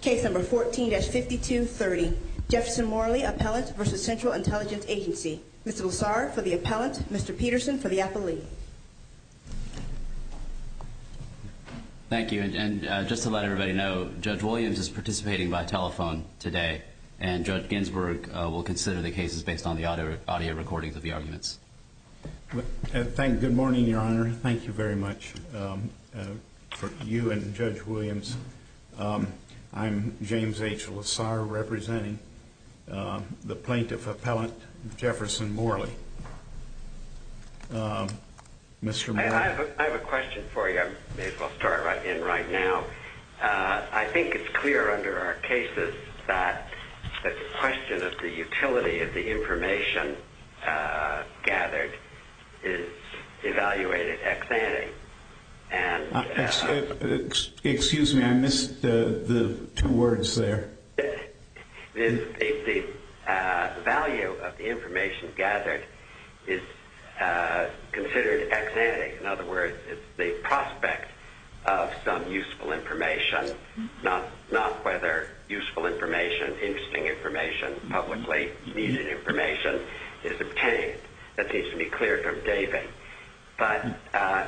Case number 14-5230, Jefferson Morley Appellant v. Central Intelligence Agency. Mr. Bulsar for the Appellant, Mr. Peterson for the Appellee. Thank you, and just to let everybody know, Judge Williams is participating by telephone today, and Judge Ginsburg will consider the cases based on the audio recordings of the arguments. Good morning, Your Honor. Thank you very much. For you and Judge Williams, I'm James H. Bulsar, representing the Plaintiff Appellant, Jefferson Morley. Mr. Morley. I have a question for you. I may as well start right in right now. I think it's clear under our cases that the question of the utility of the information gathered is evaluated ex-ante. Excuse me, I missed the two words there. The value of the information gathered is considered ex-ante. In other words, it's the prospect of some useful information, not whether useful information, interesting information, publicly needed information is obtained. That seems to be clear from David. But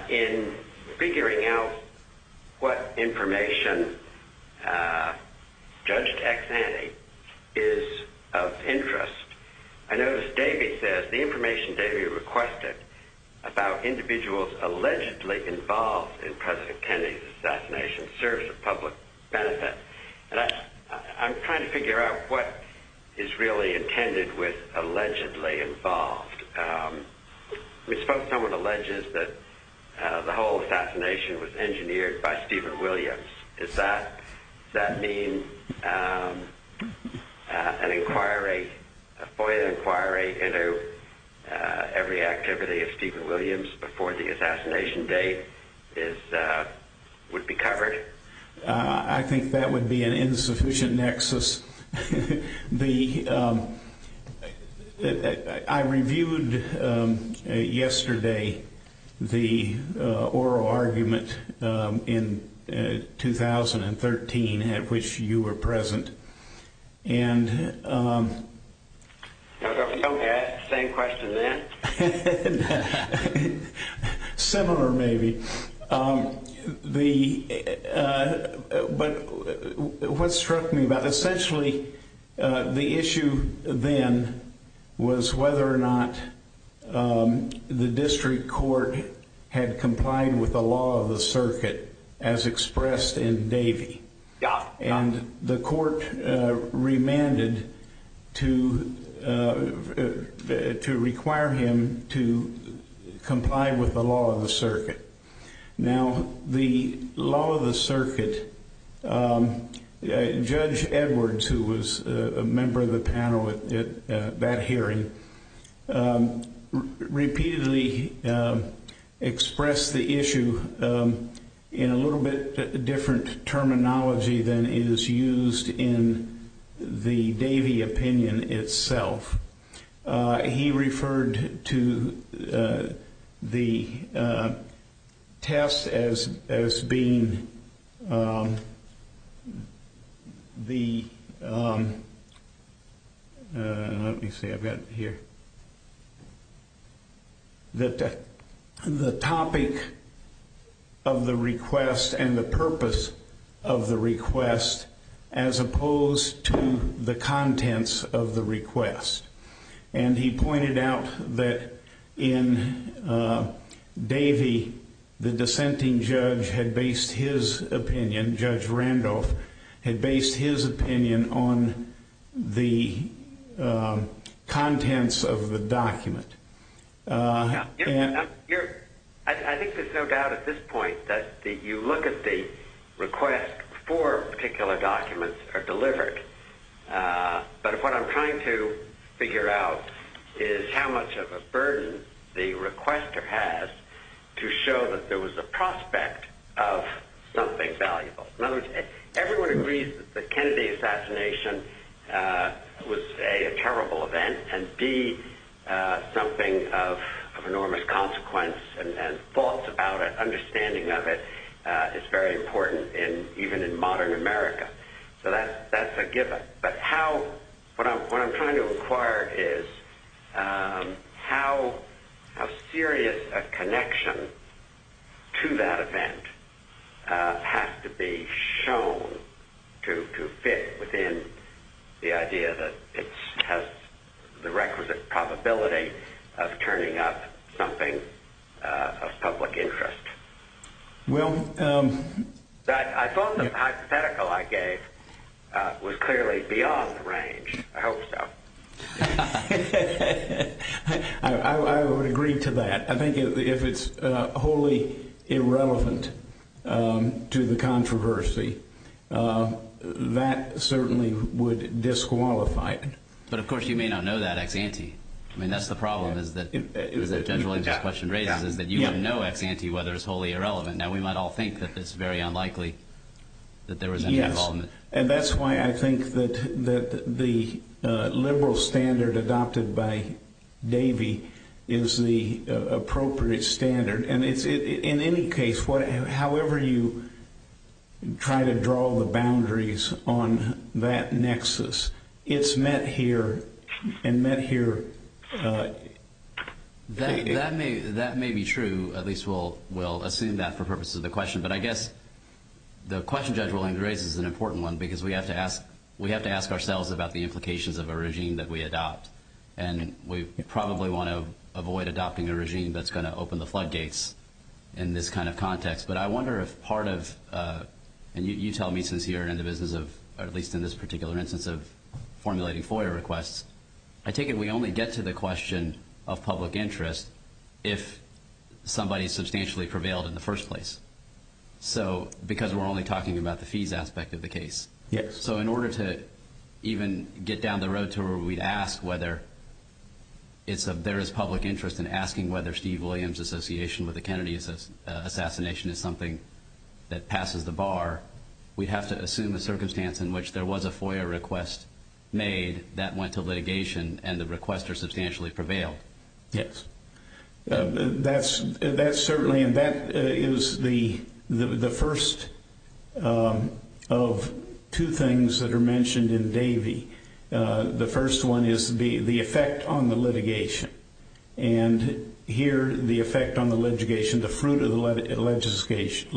in figuring out what information judged ex-ante is of interest, I noticed David says the information David requested about individuals allegedly involved in President Kennedy's assassination serves a public benefit. And I'm trying to figure out what is really intended with allegedly involved. We spoke to someone who alleges that the whole assassination was engineered by Stephen Williams. Does that mean an inquiry, a FOIA inquiry into every activity of Stephen Williams before the assassination date would be covered? I think that would be an insufficient nexus. I reviewed yesterday the oral argument in 2013 at which you were present. Okay, same question then. Similar maybe. But what struck me about it, essentially the issue then was whether or not the district court had complied with the law of the circuit as expressed in Davey. And the court remanded to require him to comply with the law of the circuit. Now, the law of the circuit, Judge Edwards, who was a member of the panel at that hearing, repeatedly expressed the issue in a little bit different terminology than is used in the Davey opinion itself. He referred to the test as being the topic of the request and the purpose of the request as opposed to the contents of the request. And he pointed out that in Davey, the dissenting judge had based his opinion, Judge Randolph, had based his opinion on the contents of the document. I think there's no doubt at this point that you look at the request, four particular documents are delivered. But what I'm trying to figure out is how much of a burden the requester has to show that there was a prospect of something valuable. In other words, everyone agrees that the Kennedy assassination was, A, a terrible event, and, B, something of enormous consequence and thoughts about it, understanding of it, is very important even in modern America. So that's a given. But what I'm trying to inquire is how serious a connection to that event has to be shown to fit within the idea that it has the requisite probability of turning up something of public interest. Well, I thought the hypothetical I gave was clearly beyond the range. I hope so. I would agree to that. I think if it's wholly irrelevant to the controversy, that certainly would disqualify it. But of course you may not know that ex-ante. I mean, that's the problem that Judge Williams' question raises, is that you have no ex-ante whether it's wholly irrelevant. Now, we might all think that it's very unlikely that there was any involvement. Yes, and that's why I think that the liberal standard adopted by Davey is the appropriate standard. In any case, however you try to draw the boundaries on that nexus, it's met here and met here. That may be true. At least we'll assume that for purposes of the question. But I guess the question Judge Williams raises is an important one because we have to ask ourselves about the implications of a regime that we adopt. And we probably want to avoid adopting a regime that's going to open the floodgates in this kind of context. But I wonder if part of, and you tell me since you're in the business of, at least in this particular instance, of formulating FOIA requests. I take it we only get to the question of public interest if somebody substantially prevailed in the first place. Because we're only talking about the fees aspect of the case. Yes. So in order to even get down the road to where we'd ask whether there is public interest in asking whether Steve Williams' association with the Kennedy assassination is something that passes the bar, we'd have to assume a circumstance in which there was a FOIA request made that went to litigation and the requester substantially prevailed. Yes. That's certainly, and that is the first of two things that are mentioned in Davey. The first one is the effect on the litigation. And here the effect on the litigation, the fruit of the litigation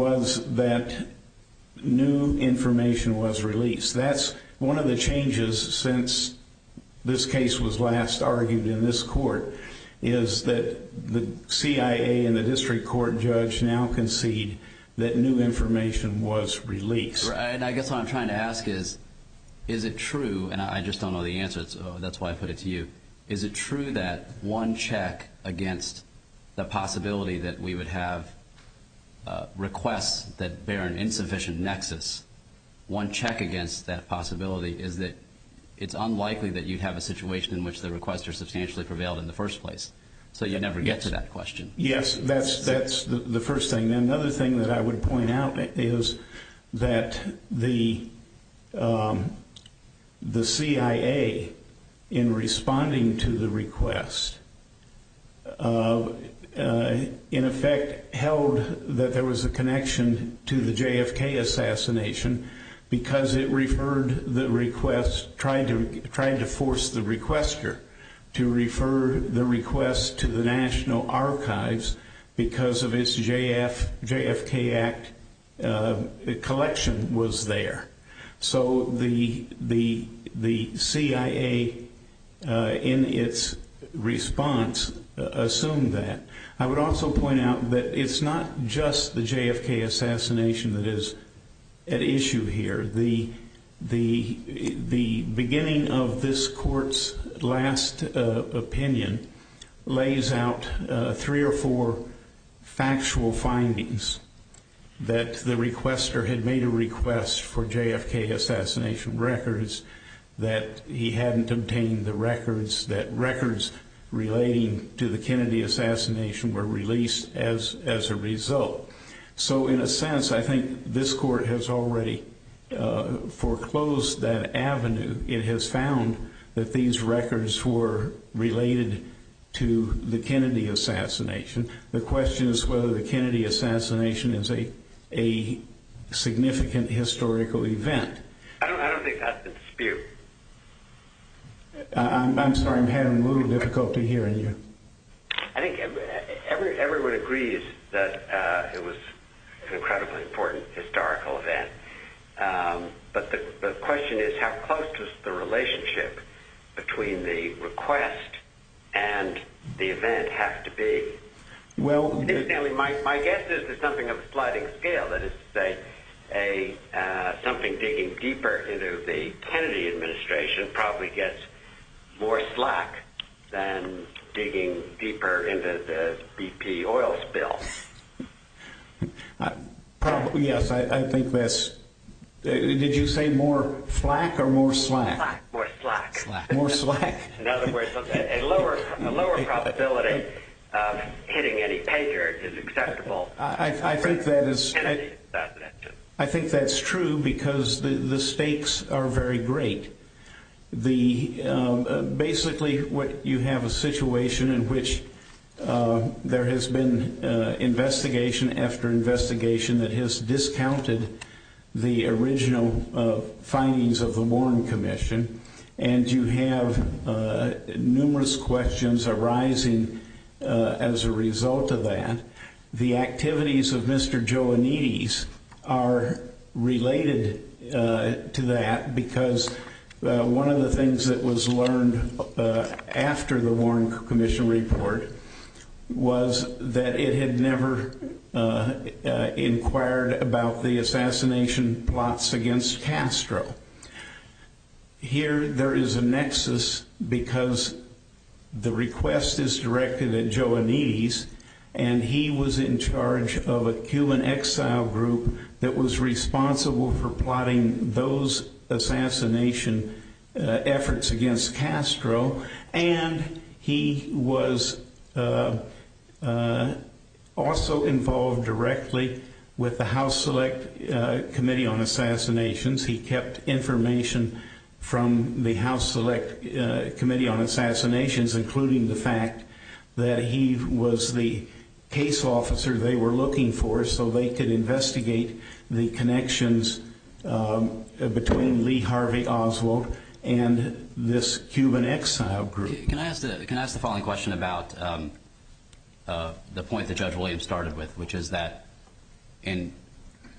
was that new information was released. That's one of the changes since this case was last argued in this court is that the CIA and the district court judge now concede that new information was released. Right. And I guess what I'm trying to ask is, is it true, and I just don't know the answer, so that's why I put it to you. Is it true that one check against the possibility that we would have requests that bear an insufficient nexus, one check against that possibility is that it's unlikely that you'd have a situation in which the requester substantially prevailed in the first place. So you'd never get to that question. Yes, that's the first thing. And another thing that I would point out is that the CIA, in responding to the request, in effect held that there was a connection to the JFK assassination because it referred the request, tried to force the requester to refer the request to the National Archives because of its JFK Act collection was there. So the CIA, in its response, assumed that. I would also point out that it's not just the JFK assassination that is at issue here. The beginning of this court's last opinion lays out three or four factual findings that the requester had made a request for JFK assassination records, that he hadn't obtained the records, that records relating to the Kennedy assassination were released as a result. So in a sense, I think this court has already foreclosed that avenue. It has found that these records were related to the Kennedy assassination. The question is whether the Kennedy assassination is a significant historical event. I don't think that's the dispute. I'm sorry, I'm having a little difficulty hearing you. I think everyone agrees that it was an incredibly important historical event. But the question is how close does the relationship between the request and the event have to be? My guess is that something of a sliding scale, that is to say something digging deeper into the Kennedy administration probably gets more slack than digging deeper into the BP oil spill. Yes, I think that's – did you say more flack or more slack? More slack. More slack. In other words, a lower probability of hitting any Patriot is acceptable. I think that is – I think that's true because the stakes are very great. Basically, you have a situation in which there has been investigation after investigation that has discounted the original findings of the Warren Commission. And you have numerous questions arising as a result of that. The activities of Mr. Joannides are related to that because one of the things that was learned after the Warren Commission report was that it had never inquired about the assassination plots against Castro. Here there is a nexus because the request is directed at Joannides and he was in charge of a Cuban exile group that was responsible for plotting those assassination efforts against Castro. And he was also involved directly with the House Select Committee on Assassinations. He kept information from the House Select Committee on Assassinations, including the fact that he was the case officer they were looking for so they could investigate the connections between Lee Harvey Oswald and this Cuban exile group. Can I ask the following question about the point that Judge Williams started with, which is that in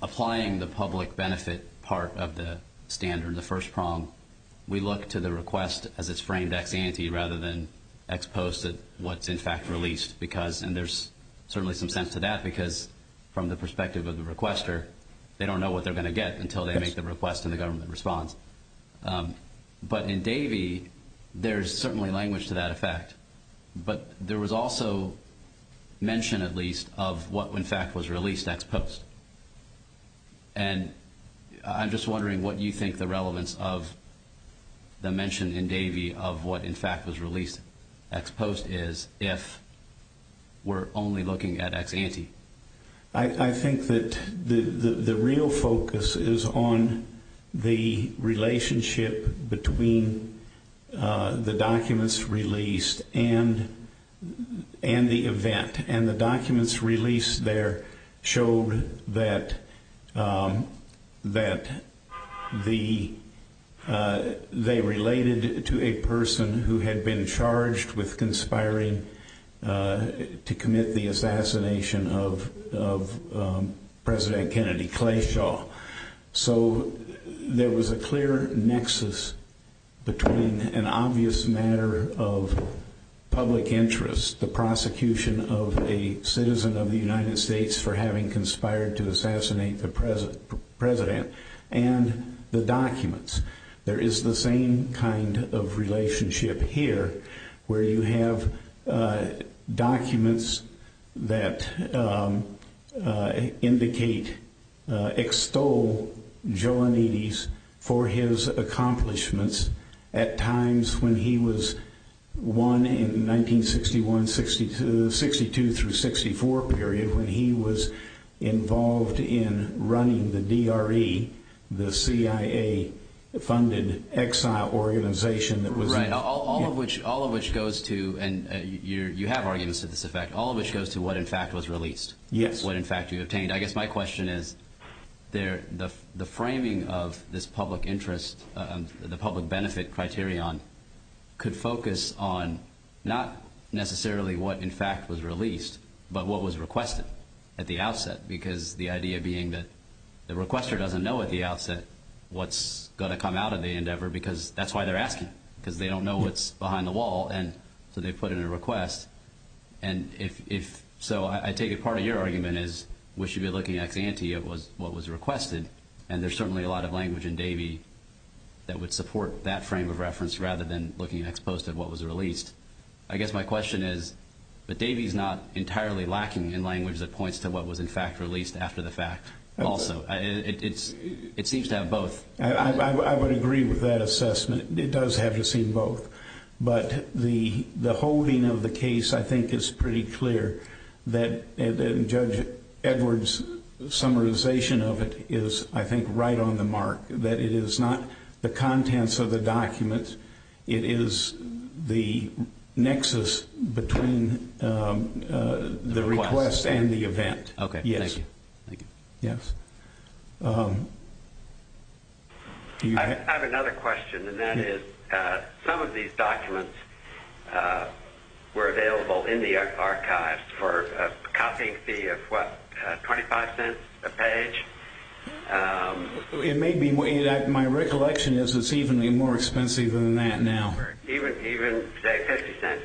applying the public benefit part of the standard, the first prong, we look to the request as it's framed ex ante rather than ex post at what's in fact released. And there's certainly some sense to that because from the perspective of the requester, they don't know what they're going to get until they make the request and the government responds. But in Davey, there's certainly language to that effect, but there was also mention at least of what in fact was released ex post. And I'm just wondering what you think the relevance of the mention in Davey of what in fact was released ex post is if we're only looking at ex ante. I think that the real focus is on the relationship between the documents released and the event. And the documents released there showed that they related to a person who had been charged with conspiring to commit the assassination of President Kennedy Clayshaw. So there was a clear nexus between an obvious matter of public interest, the prosecution of a citizen of the United States for having conspired to assassinate the president, and the documents. There is the same kind of relationship here where you have documents that indicate, extol Jolanides for his accomplishments at times when he was one in 1961, 62 through 64 period when he was involved in running the DRE, the CIA funded exile organization. Right. All of which goes to, and you have arguments to this effect, all of which goes to what in fact was released. Yes. I guess my question is the framing of this public interest, the public benefit criterion could focus on not necessarily what in fact was released, but what was requested at the outset. Because the idea being that the requester doesn't know at the outset what's going to come out of the endeavor because that's why they're asking. Because they don't know what's behind the wall. And so they put in a request. And so I take it part of your argument is we should be looking at what was requested. And there's certainly a lot of language in Davey that would support that frame of reference rather than looking at what was released. I guess my question is, but Davey's not entirely lacking in language that points to what was in fact released after the fact also. It seems to have both. I would agree with that assessment. It does have to seem both. But the holding of the case, I think, is pretty clear that Judge Edwards' summarization of it is, I think, right on the mark. That it is not the contents of the document. It is the nexus between the request and the event. Okay. Thank you. Yes. I have another question, and that is some of these documents were available in the archives for a copying fee of, what, 25 cents a page? It may be. My recollection is it's even more expensive than that now. Even, say, 50 cents.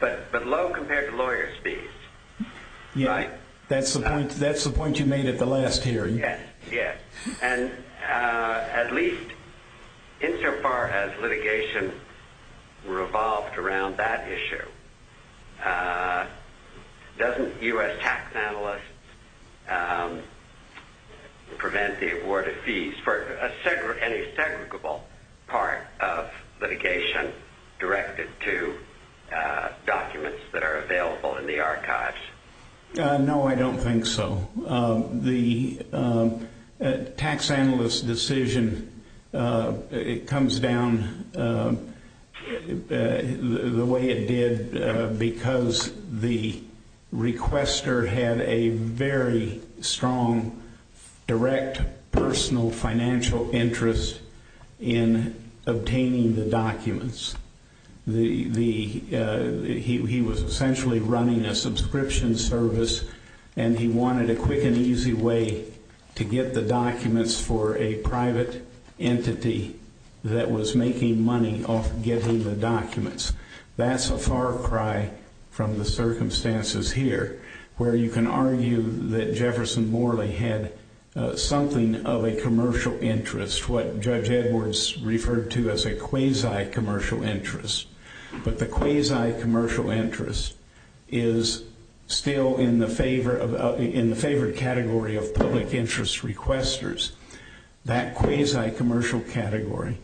But low compared to lawyer's fees, right? That's the point you made at the last hearing. Yes. And at least insofar as litigation revolved around that issue, doesn't U.S. tax analysts prevent the award of fees for any segregable part of litigation directed to documents that are available in the archives? No, I don't think so. The tax analyst decision, it comes down the way it did because the requester had a very strong direct personal financial interest in obtaining the documents. He was essentially running a subscription service, and he wanted a quick and easy way to get the documents for a private entity that was making money off getting the documents. That's a far cry from the circumstances here, where you can argue that Jefferson Morley had something of a commercial interest, what Judge Edwards referred to as a quasi-commercial interest. But the quasi-commercial interest is still in the favored category of public interest requesters. That quasi-commercial category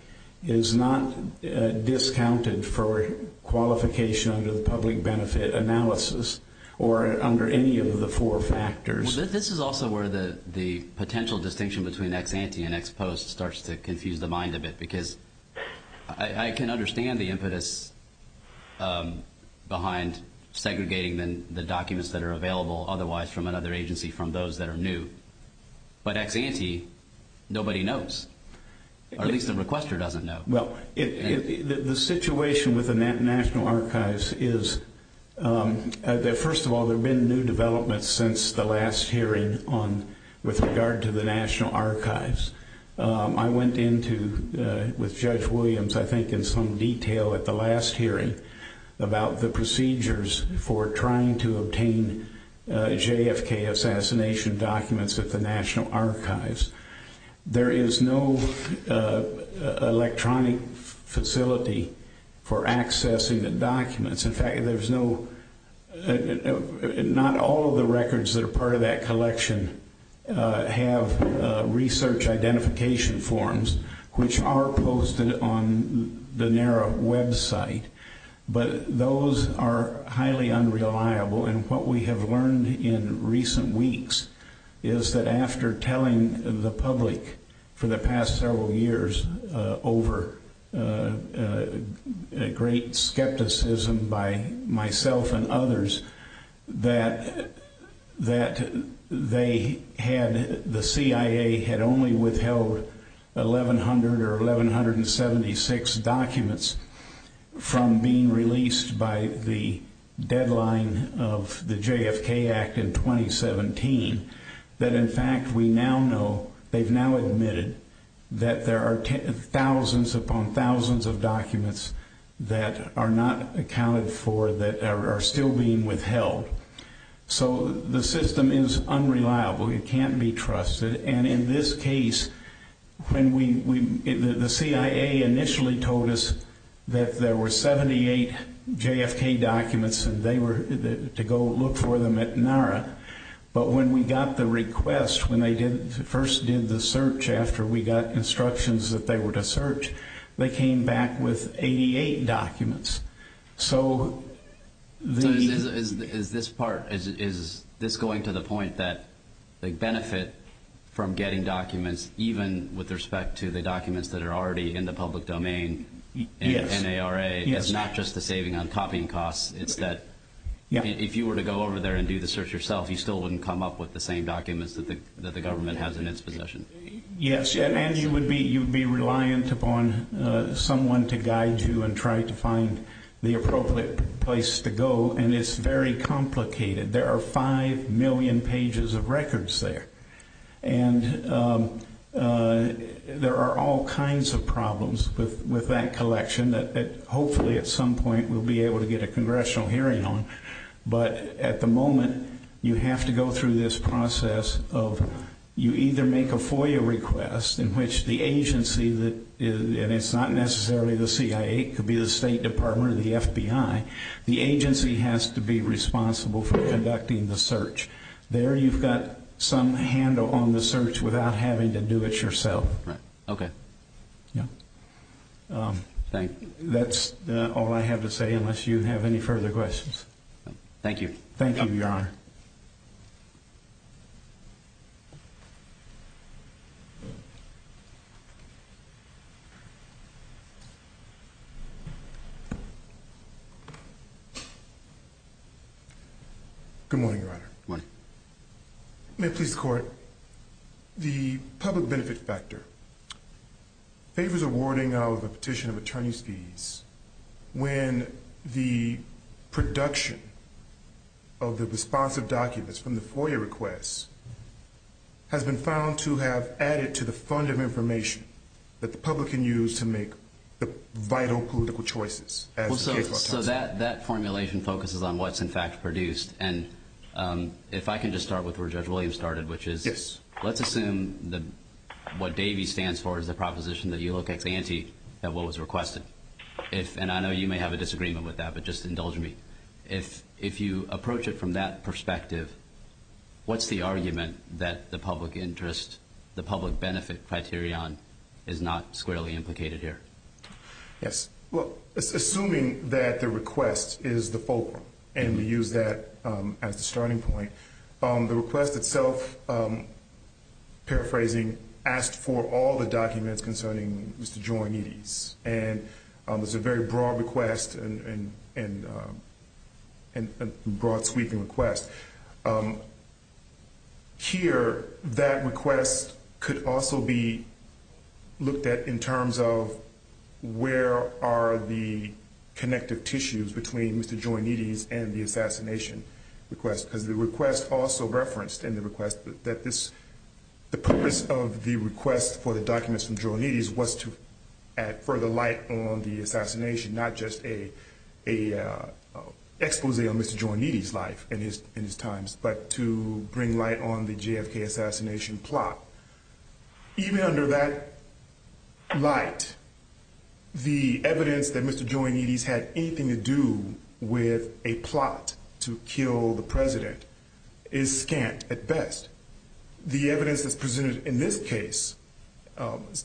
is not discounted for qualification under the public benefit analysis or under any of the four factors. Well, this is also where the potential distinction between ex-ante and ex-post starts to confuse the mind of it, because I can understand the impetus behind segregating the documents that are available otherwise from another agency from those that are new. But ex-ante, nobody knows. Or at least the requester doesn't know. The situation with the National Archives is that, first of all, there have been new developments since the last hearing with regard to the National Archives. I went into with Judge Williams, I think, in some detail at the last hearing about the procedures for trying to obtain JFK assassination documents at the National Archives. There is no electronic facility for accessing the documents. In fact, there's no – not all of the records that are part of that collection have research identification forms, which are posted on the NARA website. But those are highly unreliable, and what we have learned in recent weeks is that after telling the public for the past several years over great skepticism by myself and others, that they had – the CIA had only withheld 1,100 or 1,176 documents from being released by the deadline of the JFK Act in 2017, that in fact we now know, they've now admitted, that there are thousands upon thousands of documents that are not accounted for that are still being withheld. So the system is unreliable. It can't be trusted. And in this case, when we – the CIA initially told us that there were 78 JFK documents and they were – to go look for them at NARA. But when we got the request, when they first did the search after we got instructions that they were to search, they came back with 88 documents. So the – So is this part – is this going to the point that they benefit from getting documents even with respect to the documents that are already in the public domain in NARA? Yes. It's not just the saving on copying costs. It's that if you were to go over there and do the search yourself, you still wouldn't come up with the same documents that the government has in its possession. Yes. And you would be – you would be reliant upon someone to guide you and try to find the appropriate place to go. And it's very complicated. There are 5 million pages of records there. And there are all kinds of problems with that collection that hopefully at some point we'll be able to get a congressional hearing on. But at the moment, you have to go through this process of you either make a FOIA request in which the agency that – and it's not necessarily the CIA. It could be the State Department or the FBI. The agency has to be responsible for conducting the search. There you've got some handle on the search without having to do it yourself. Right. Okay. Yeah. Thank – That's all I have to say unless you have any further questions. Thank you. Thank you, Your Honor. Good morning, Your Honor. Good morning. May it please the Court, the public benefit factor favors awarding of a petition of attorney's fees when the production of the responsive documents from the FOIA request has been found to have added to the fund of information that the public can use to make the vital political choices. So that formulation focuses on what's, in fact, produced. And if I can just start with where Judge Williams started, which is let's assume that what Davey stands for is the proposition that you look ex ante at what was requested. And I know you may have a disagreement with that, but just indulge me. If you approach it from that perspective, what's the argument that the public interest, the public benefit criterion is not squarely implicated here? Yes. Well, assuming that the request is the fulcrum, and we use that as the starting point, the request itself, paraphrasing, asked for all the documents concerning Mr. Jorimidis. And it's a very broad request and a broad sweeping request. Here, that request could also be looked at in terms of where are the connective tissues between Mr. Jorimidis and the assassination request. Because the request also referenced in the request that the purpose of the request for the documents from Jorimidis was to add further light on the assassination, not just a expose on Mr. Jorimidis' life and his times, but to bring light on the JFK assassination plot. Even under that light, the evidence that Mr. Jorimidis had anything to do with a plot to kill the president is scant at best. The evidence that's presented in this case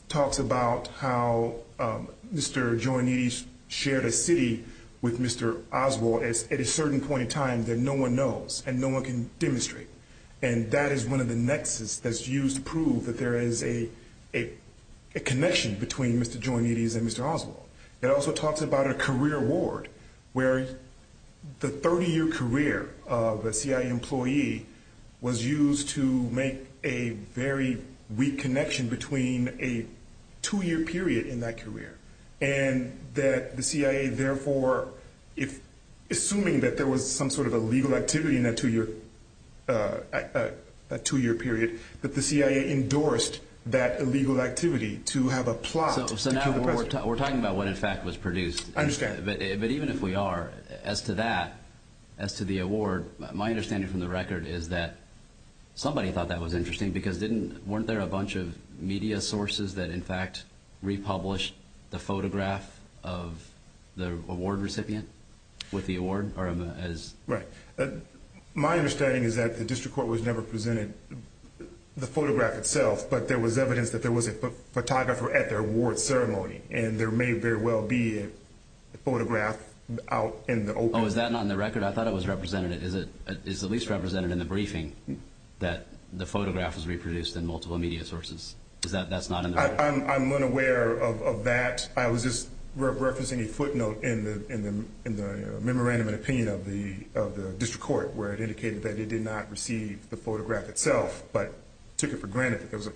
talks about how Mr. Jorimidis shared a city with Mr. Oswald at a certain point in time that no one knows and no one can demonstrate. And that is one of the nexus that's used to prove that there is a connection between Mr. Jorimidis and Mr. Oswald. It also talks about a career award where the 30-year career of a CIA employee was used to make a very weak connection between a two-year period in that career. And that the CIA therefore, assuming that there was some sort of a legal activity in that two-year period, that the CIA endorsed that illegal activity to have a plot to kill the president. So now we're talking about what in fact was produced. I understand. But even if we are, as to that, as to the award, my understanding from the record is that somebody thought that was interesting because weren't there a bunch of media sources that in fact republished the photograph of the award recipient with the award? Right. My understanding is that the district court was never presented the photograph itself. But there was evidence that there was a photographer at their award ceremony. And there may very well be a photograph out in the open. Oh, is that not in the record? I thought it was represented. Is it at least represented in the briefing that the photograph was reproduced in multiple media sources? Is that not in the record? I'm unaware of that. I was just referencing a footnote in the memorandum and opinion of the district court where it indicated that it did not receive the photograph itself but took it for granted that there was a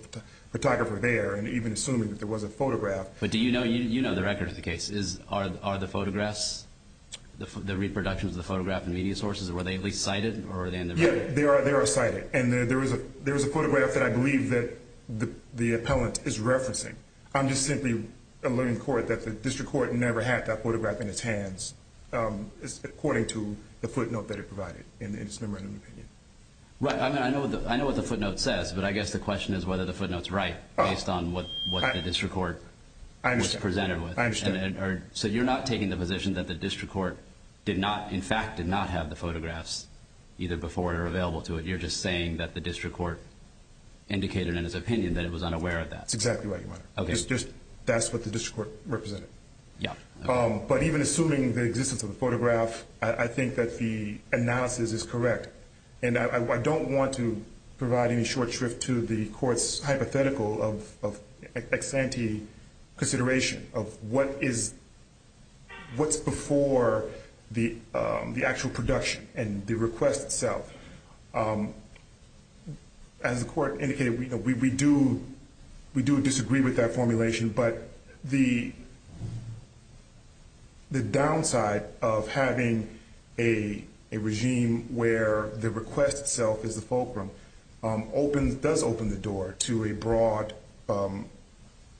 photographer there and even assuming that there was a photograph. But do you know the record of the case? Are the photographs, the reproductions of the photograph in media sources, were they at least cited? Yeah, they are cited. And there was a photograph that I believe that the appellant is referencing. I'm just simply alluring the court that the district court never had that photograph in its hands according to the footnote that it provided in its memorandum opinion. Right. I mean, I know what the footnote says, but I guess the question is whether the footnote's right based on what the district court was presented with. I understand. So you're not taking the position that the district court did not, in fact, did not have the photographs either before or available to it. You're just saying that the district court indicated in its opinion that it was unaware of that. That's exactly right, Your Honor. Okay. That's what the district court represented. Yeah. But even assuming the existence of the photograph, I think that the analysis is correct. And I don't want to provide any short shrift to the court's hypothetical of ex-ante consideration of what's before the actual production and the request itself. As the court indicated, we do disagree with that formulation, but the downside of having a regime where the request itself is the fulcrum does open the door to a broad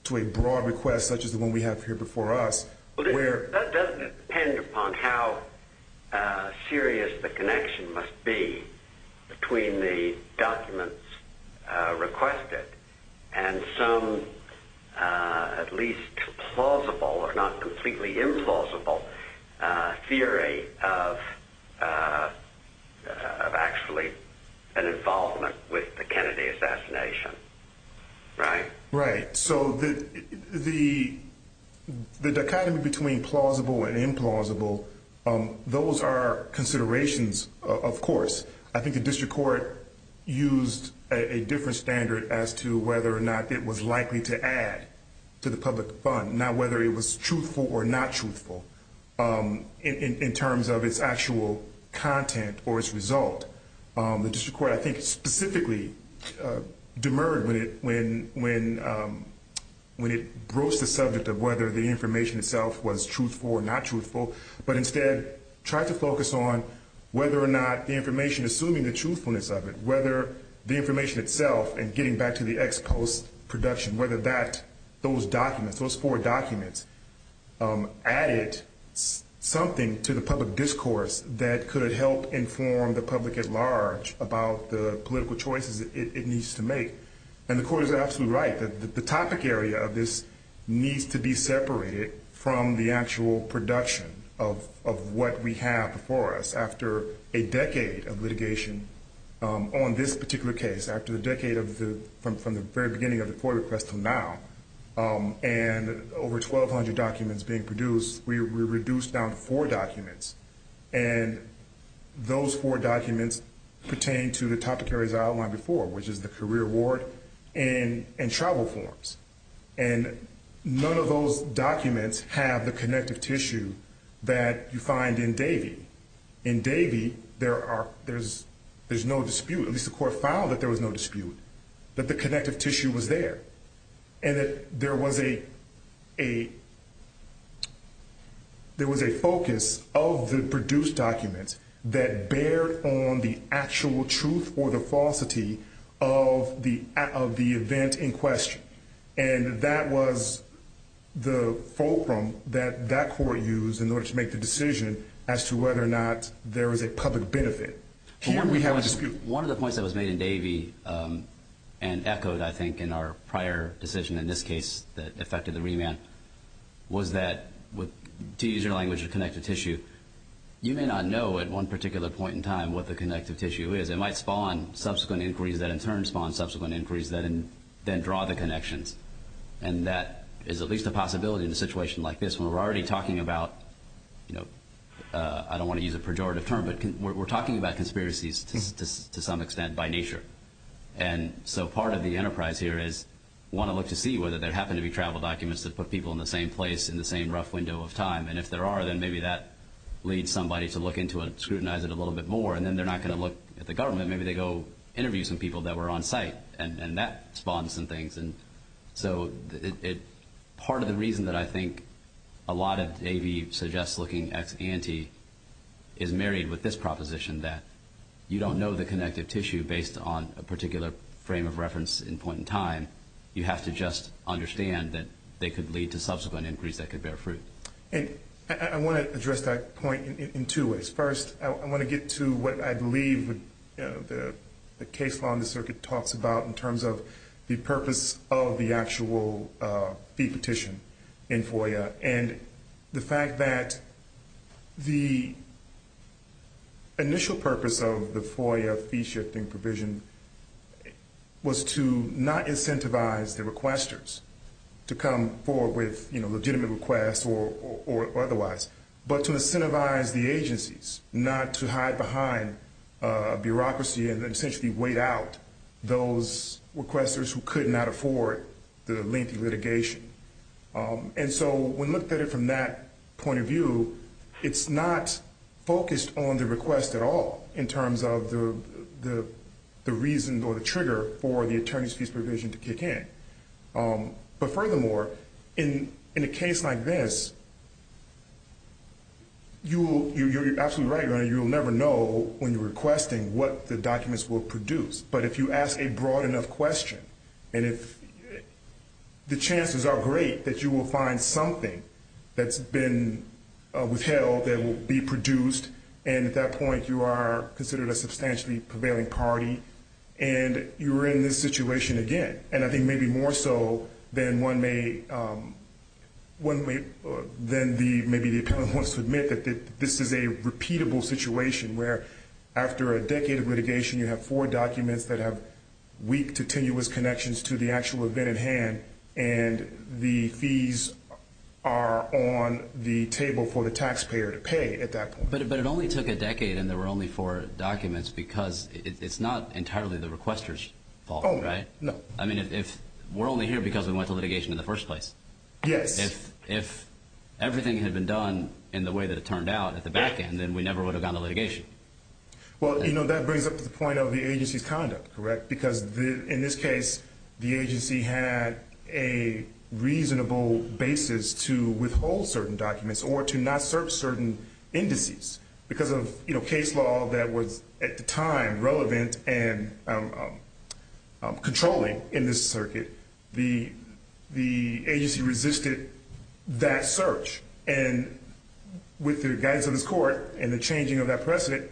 request such as the one we have here before us. That doesn't depend upon how serious the connection must be between the documents requested and some at least plausible or not completely implausible theory of actually an involvement with the Kennedy assassination. Right? Right. So the dichotomy between plausible and implausible, those are considerations, of course. I think the district court used a different standard as to whether or not it was likely to add to the public fund, not whether it was truthful or not truthful in terms of its actual content or its result. The district court, I think, specifically demurred when it broke the subject of whether the information itself was truthful or not truthful, but instead tried to focus on whether or not the information, assuming the truthfulness of it, whether the information itself and getting back to the ex-post production, whether that, those documents, those four documents added something to the public discourse that could have helped inform the public at large. About the political choices it needs to make. And the court is absolutely right that the topic area of this needs to be separated from the actual production of what we have before us after a decade of litigation. And on this particular case, after the decade of the, from the very beginning of the FOIA request until now, and over 1,200 documents being produced, we reduced down to four documents. And those four documents pertain to the topic areas I outlined before, which is the career award and travel forms. And none of those documents have the connective tissue that you find in Davey. In Davey, there are, there's no dispute, at least the court found that there was no dispute, that the connective tissue was there. And that there was a, there was a focus of the produced documents that bared on the actual truth or the falsity of the event in question. And that was the fulcrum that that court used in order to make the decision as to whether or not there was a public benefit. Here we have a dispute. One of the points that was made in Davey, and echoed, I think, in our prior decision in this case that affected the remand, was that, to use your language, the connective tissue, you may not know at one particular point in time what the connective tissue is. It might spawn subsequent inquiries that in turn spawn subsequent inquiries that then draw the connections. And that is at least a possibility in a situation like this where we're already talking about, you know, I don't want to use a pejorative term, but we're talking about conspiracies to some extent by nature. And so part of the enterprise here is we want to look to see whether there happen to be travel documents that put people in the same place in the same rough window of time. And if there are, then maybe that leads somebody to look into and scrutinize it a little bit more. And then they're not going to look at the government. Maybe they go interview some people that were on site, and that spawns some things. And so part of the reason that I think a lot of Davey suggests looking ex ante is married with this proposition that you don't know the connective tissue based on a particular frame of reference and point in time. You have to just understand that they could lead to subsequent inquiries that could bear fruit. And I want to address that point in two ways. First, I want to get to what I believe the case law in the circuit talks about in terms of the purpose of the actual fee petition in FOIA and the fact that the initial purpose of the FOIA fee shifting provision was to not incentivize the requesters to come forward with legitimate requests or otherwise, but to incentivize the agencies not to hide behind bureaucracy and essentially wait out those requesters who could not afford the lengthy litigation. And so when looked at it from that point of view, it's not focused on the request at all in terms of the reason or the trigger for the attorney's fees provision to kick in. But furthermore, in a case like this, you're absolutely right. You'll never know when you're requesting what the documents will produce. But if you ask a broad enough question and if the chances are great that you will find something that's been withheld that will be produced, and at that point you are considered a substantially prevailing party and you're in this situation again. And I think maybe more so than maybe the appellant wants to admit that this is a repeatable situation where after a decade of litigation, you have four documents that have weak to tenuous connections to the actual event at hand and the fees are on the table for the taxpayer to pay at that point. But it only took a decade and there were only four documents because it's not entirely the requester's fault, right? No. I mean, we're only here because we went to litigation in the first place. Yes. If everything had been done in the way that it turned out at the back end, then we never would have gone to litigation. Well, you know, that brings up the point of the agency's conduct, correct? Because in this case, the agency had a reasonable basis to withhold certain documents or to not search certain indices. Because of case law that was at the time relevant and controlling in this circuit, the agency resisted that search. And with the guidance of this court and the changing of that precedent,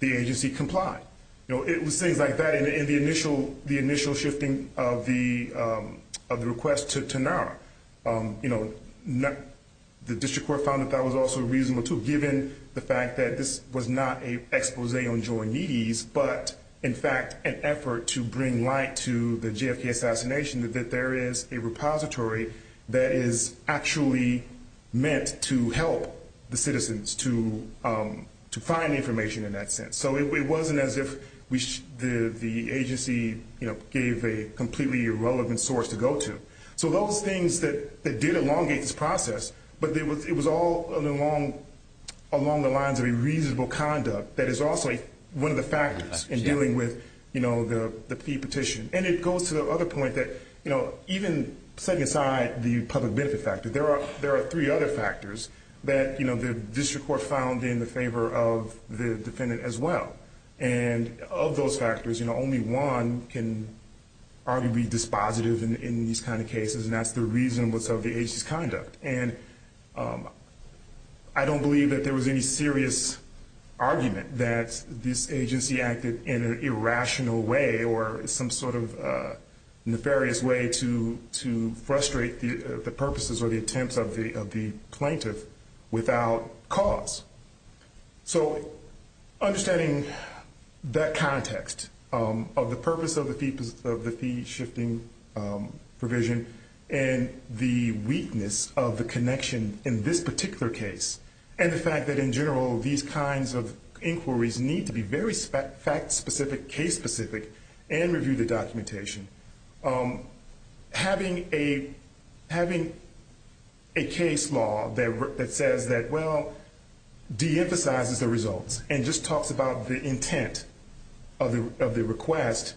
the agency complied. You know, it was things like that in the initial shifting of the request to NARA. You know, the district court found that that was also reasonable too, given the fact that this was not an expose on joint needies, but in fact an effort to bring light to the JFK assassination that there is a repository that is actually meant to help the citizens to find information in that sense. So it wasn't as if the agency gave a completely irrelevant source to go to. So those things that did elongate this process, but it was all along the lines of a reasonable conduct that is also one of the factors in dealing with the fee petition. And it goes to the other point that, you know, even setting aside the public benefit factor, there are three other factors that, you know, the district court found in the favor of the defendant as well. And of those factors, you know, only one can arguably be dispositive in these kind of cases, and that's the reason of the agency's conduct. And I don't believe that there was any serious argument that this agency acted in an irrational way or some sort of nefarious way to frustrate the purposes or the attempts of the plaintiff without cause. So understanding that context of the purpose of the fee shifting provision and the weakness of the connection in this particular case, and the fact that in general these kinds of inquiries need to be very fact-specific, case-specific, and review the documentation. Having a case law that says that, well, de-emphasizes the results and just talks about the intent of the request,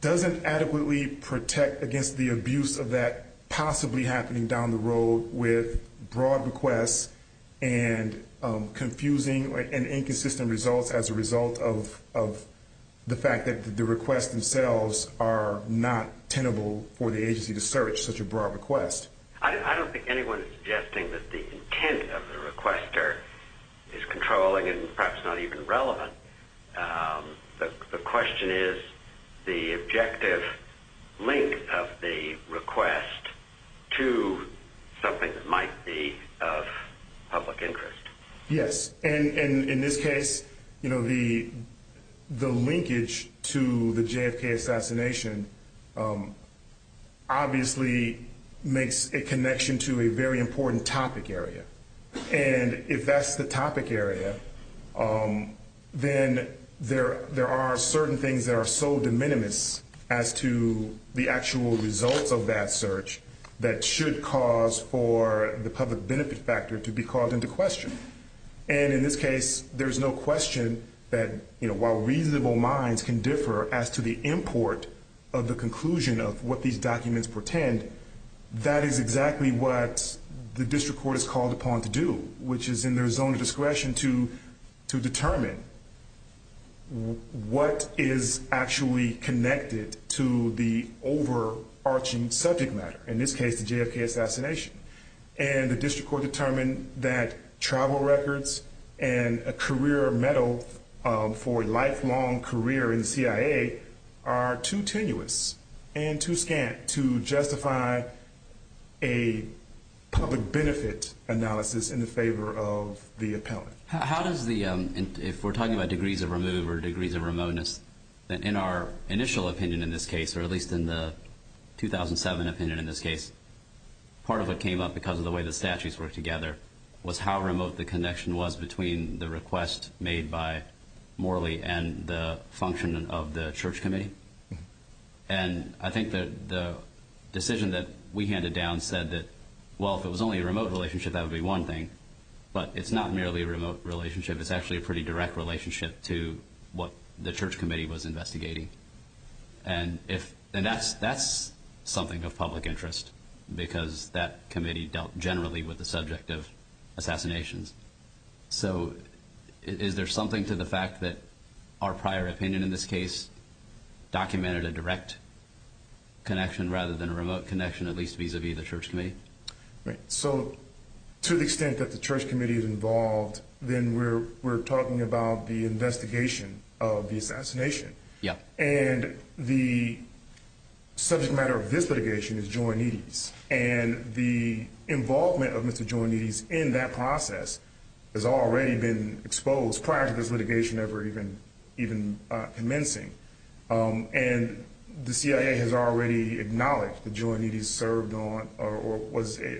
doesn't adequately protect against the abuse of that possibly happening down the road with broad requests and confusing and inconsistent results as a result of the fact that the requests themselves are not tenable for the agency to search such a broad request. I don't think anyone is suggesting that the intent of the requester is controlling and perhaps not even relevant. The question is the objective link of the request to something that might be of public interest. Yes, and in this case, you know, the linkage to the JFK assassination obviously makes a connection to a very important topic area. And if that's the topic area, then there are certain things that are so de minimis as to the actual results of that search that should cause for the public benefit factor to be called into question. And in this case, there's no question that, you know, while reasonable minds can differ as to the import of the conclusion of what these documents pretend, that is exactly what the district court is called upon to do, which is in their zone of discretion to determine what is actually connected to the overarching subject matter. In this case, the JFK assassination. And the district court determined that travel records and a career medal for a lifelong career in CIA are too tenuous and too scant to justify a public benefit analysis in the favor of the appellant. How does the if we're talking about degrees of removal or degrees of remoteness in our initial opinion in this case, or at least in the 2007 opinion in this case, part of what came up because of the way the statutes work together was how remote the connection was between the request made by Morley and the function of the church committee. And I think that the decision that we handed down said that, well, if it was only a remote relationship, that would be one thing. But it's not merely a remote relationship. It's actually a pretty direct relationship to what the church committee was investigating. And if that's that's something of public interest, because that committee dealt generally with the subject of assassinations. So is there something to the fact that our prior opinion in this case documented a direct connection rather than a remote connection, at least vis-a-vis the church committee? So to the extent that the church committee is involved, then we're we're talking about the investigation of the assassination. Yeah. And the subject matter of this litigation is joint needs. And the involvement of Mr. Johnny's in that process has already been exposed prior to this litigation ever even even commencing. And the CIA has already acknowledged the joint needs served on or was a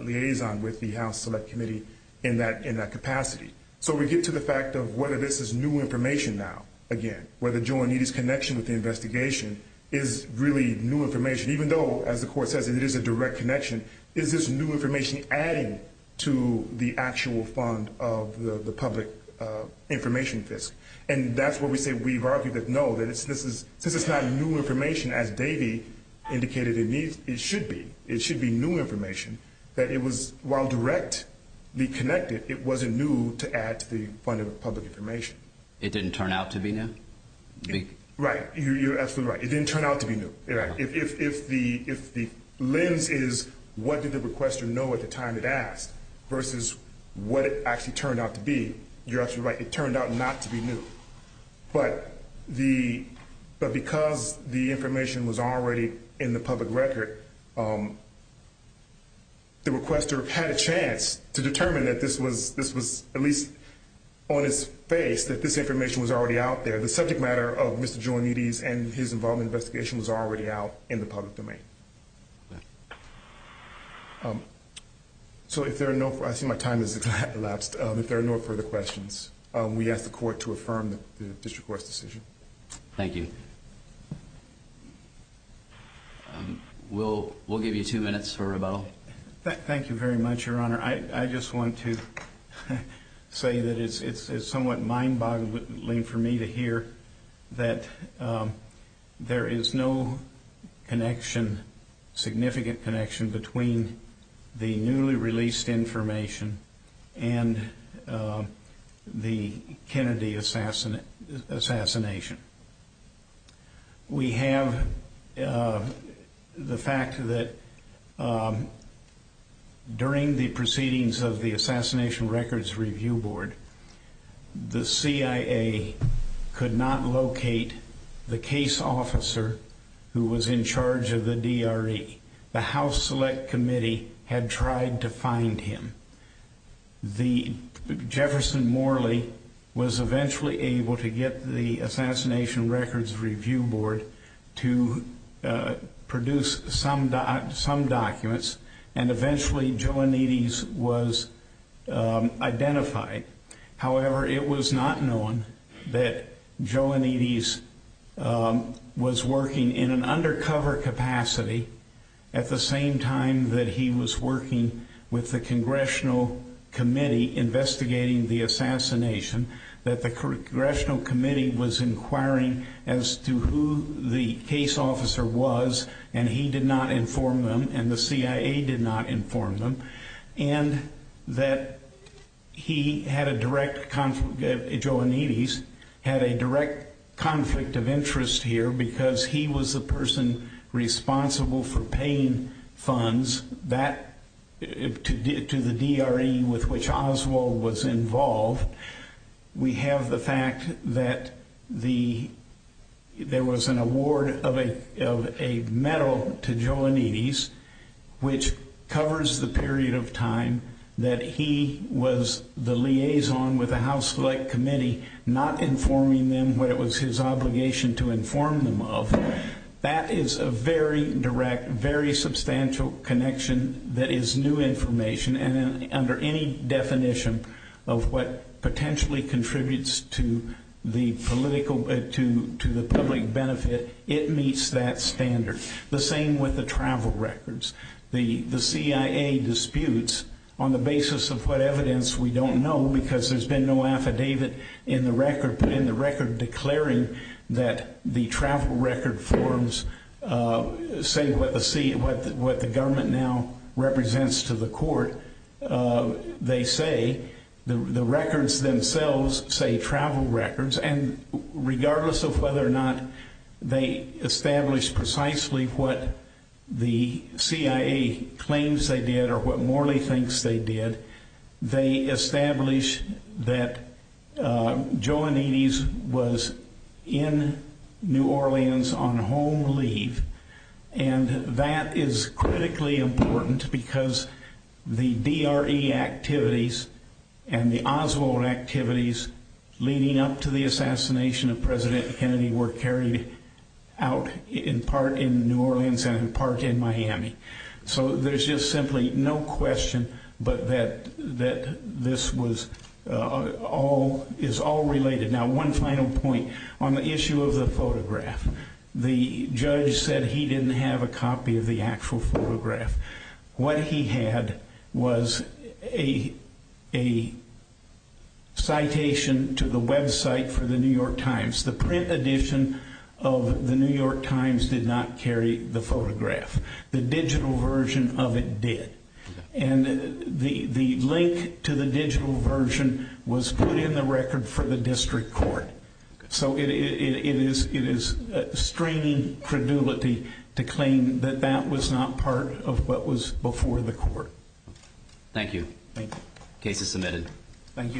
liaison with the House Select Committee in that in that capacity. So we get to the fact of whether this is new information now. Again, where the joint needs connection with the investigation is really new information, even though, as the court says, it is a direct connection. Is this new information adding to the actual fund of the public information? And that's what we say. We've argued that. No, that it's this is this is not new information, as Davey indicated. It needs it should be. It should be new information that it was. While directly connected, it wasn't new to add to the fund of public information. It didn't turn out to be now. Right. You're absolutely right. It didn't turn out to be new. If the if the lens is, what did the requester know at the time it asked versus what it actually turned out to be? You're absolutely right. It turned out not to be new. But the but because the information was already in the public record. The requester had a chance to determine that this was this was at least on his face, that this information was already out there. The subject matter of Mr. Joe and his involvement investigation was already out in the public domain. So if there are no I see my time is elapsed. If there are no further questions, we ask the court to affirm the district court's decision. Thank you. We'll we'll give you two minutes for rebuttal. I just want to say that it's somewhat mind boggling for me to hear that there is no connection, significant connection between the newly released information and the Kennedy assassin assassination. We have the fact that during the proceedings of the Assassination Records Review Board, the CIA could not locate the case officer who was in charge of the DRE. The House Select Committee had tried to find him. The Jefferson Morley was eventually able to get the Assassination Records Review Board to produce some, some documents, and eventually Joe Anides was identified. However, it was not known that Joe Anides was working in an undercover capacity at the same time that he was working with the Congressional Committee investigating the assassination. That the Congressional Committee was inquiring as to who the case officer was, and he did not inform them and the CIA did not inform them. And that he had a direct conflict. Joe Anides had a direct conflict of interest here because he was the person responsible for paying funds that to the DRE with which Oswald was involved. We have the fact that there was an award of a medal to Joe Anides, which covers the period of time that he was the liaison with the House Select Committee, not informing them what it was his obligation to inform them of. That is a very direct, very substantial connection that is new information. And under any definition of what potentially contributes to the political, to the public benefit, it meets that standard. The same with the travel records. The CIA disputes on the basis of what evidence we don't know because there's been no affidavit in the record, declaring that the travel record forms say what the government now represents to the court. They say the records themselves say travel records. And regardless of whether or not they establish precisely what the CIA claims they did or what Morley thinks they did, they establish that Joe Anides was in New Orleans on home leave. And that is critically important because the DRE activities and the Oswald activities leading up to the assassination of President Kennedy were carried out in part in New Orleans and in part in Miami. So there's just simply no question that this is all related. Now, one final point. On the issue of the photograph, the judge said he didn't have a copy of the actual photograph. What he had was a citation to the website for the New York Times. The print edition of the New York Times did not carry the photograph. The digital version of it did. And the link to the digital version was put in the record for the district court. So it is straining credulity to claim that that was not part of what was before the court. Thank you. Case is submitted. Thank you.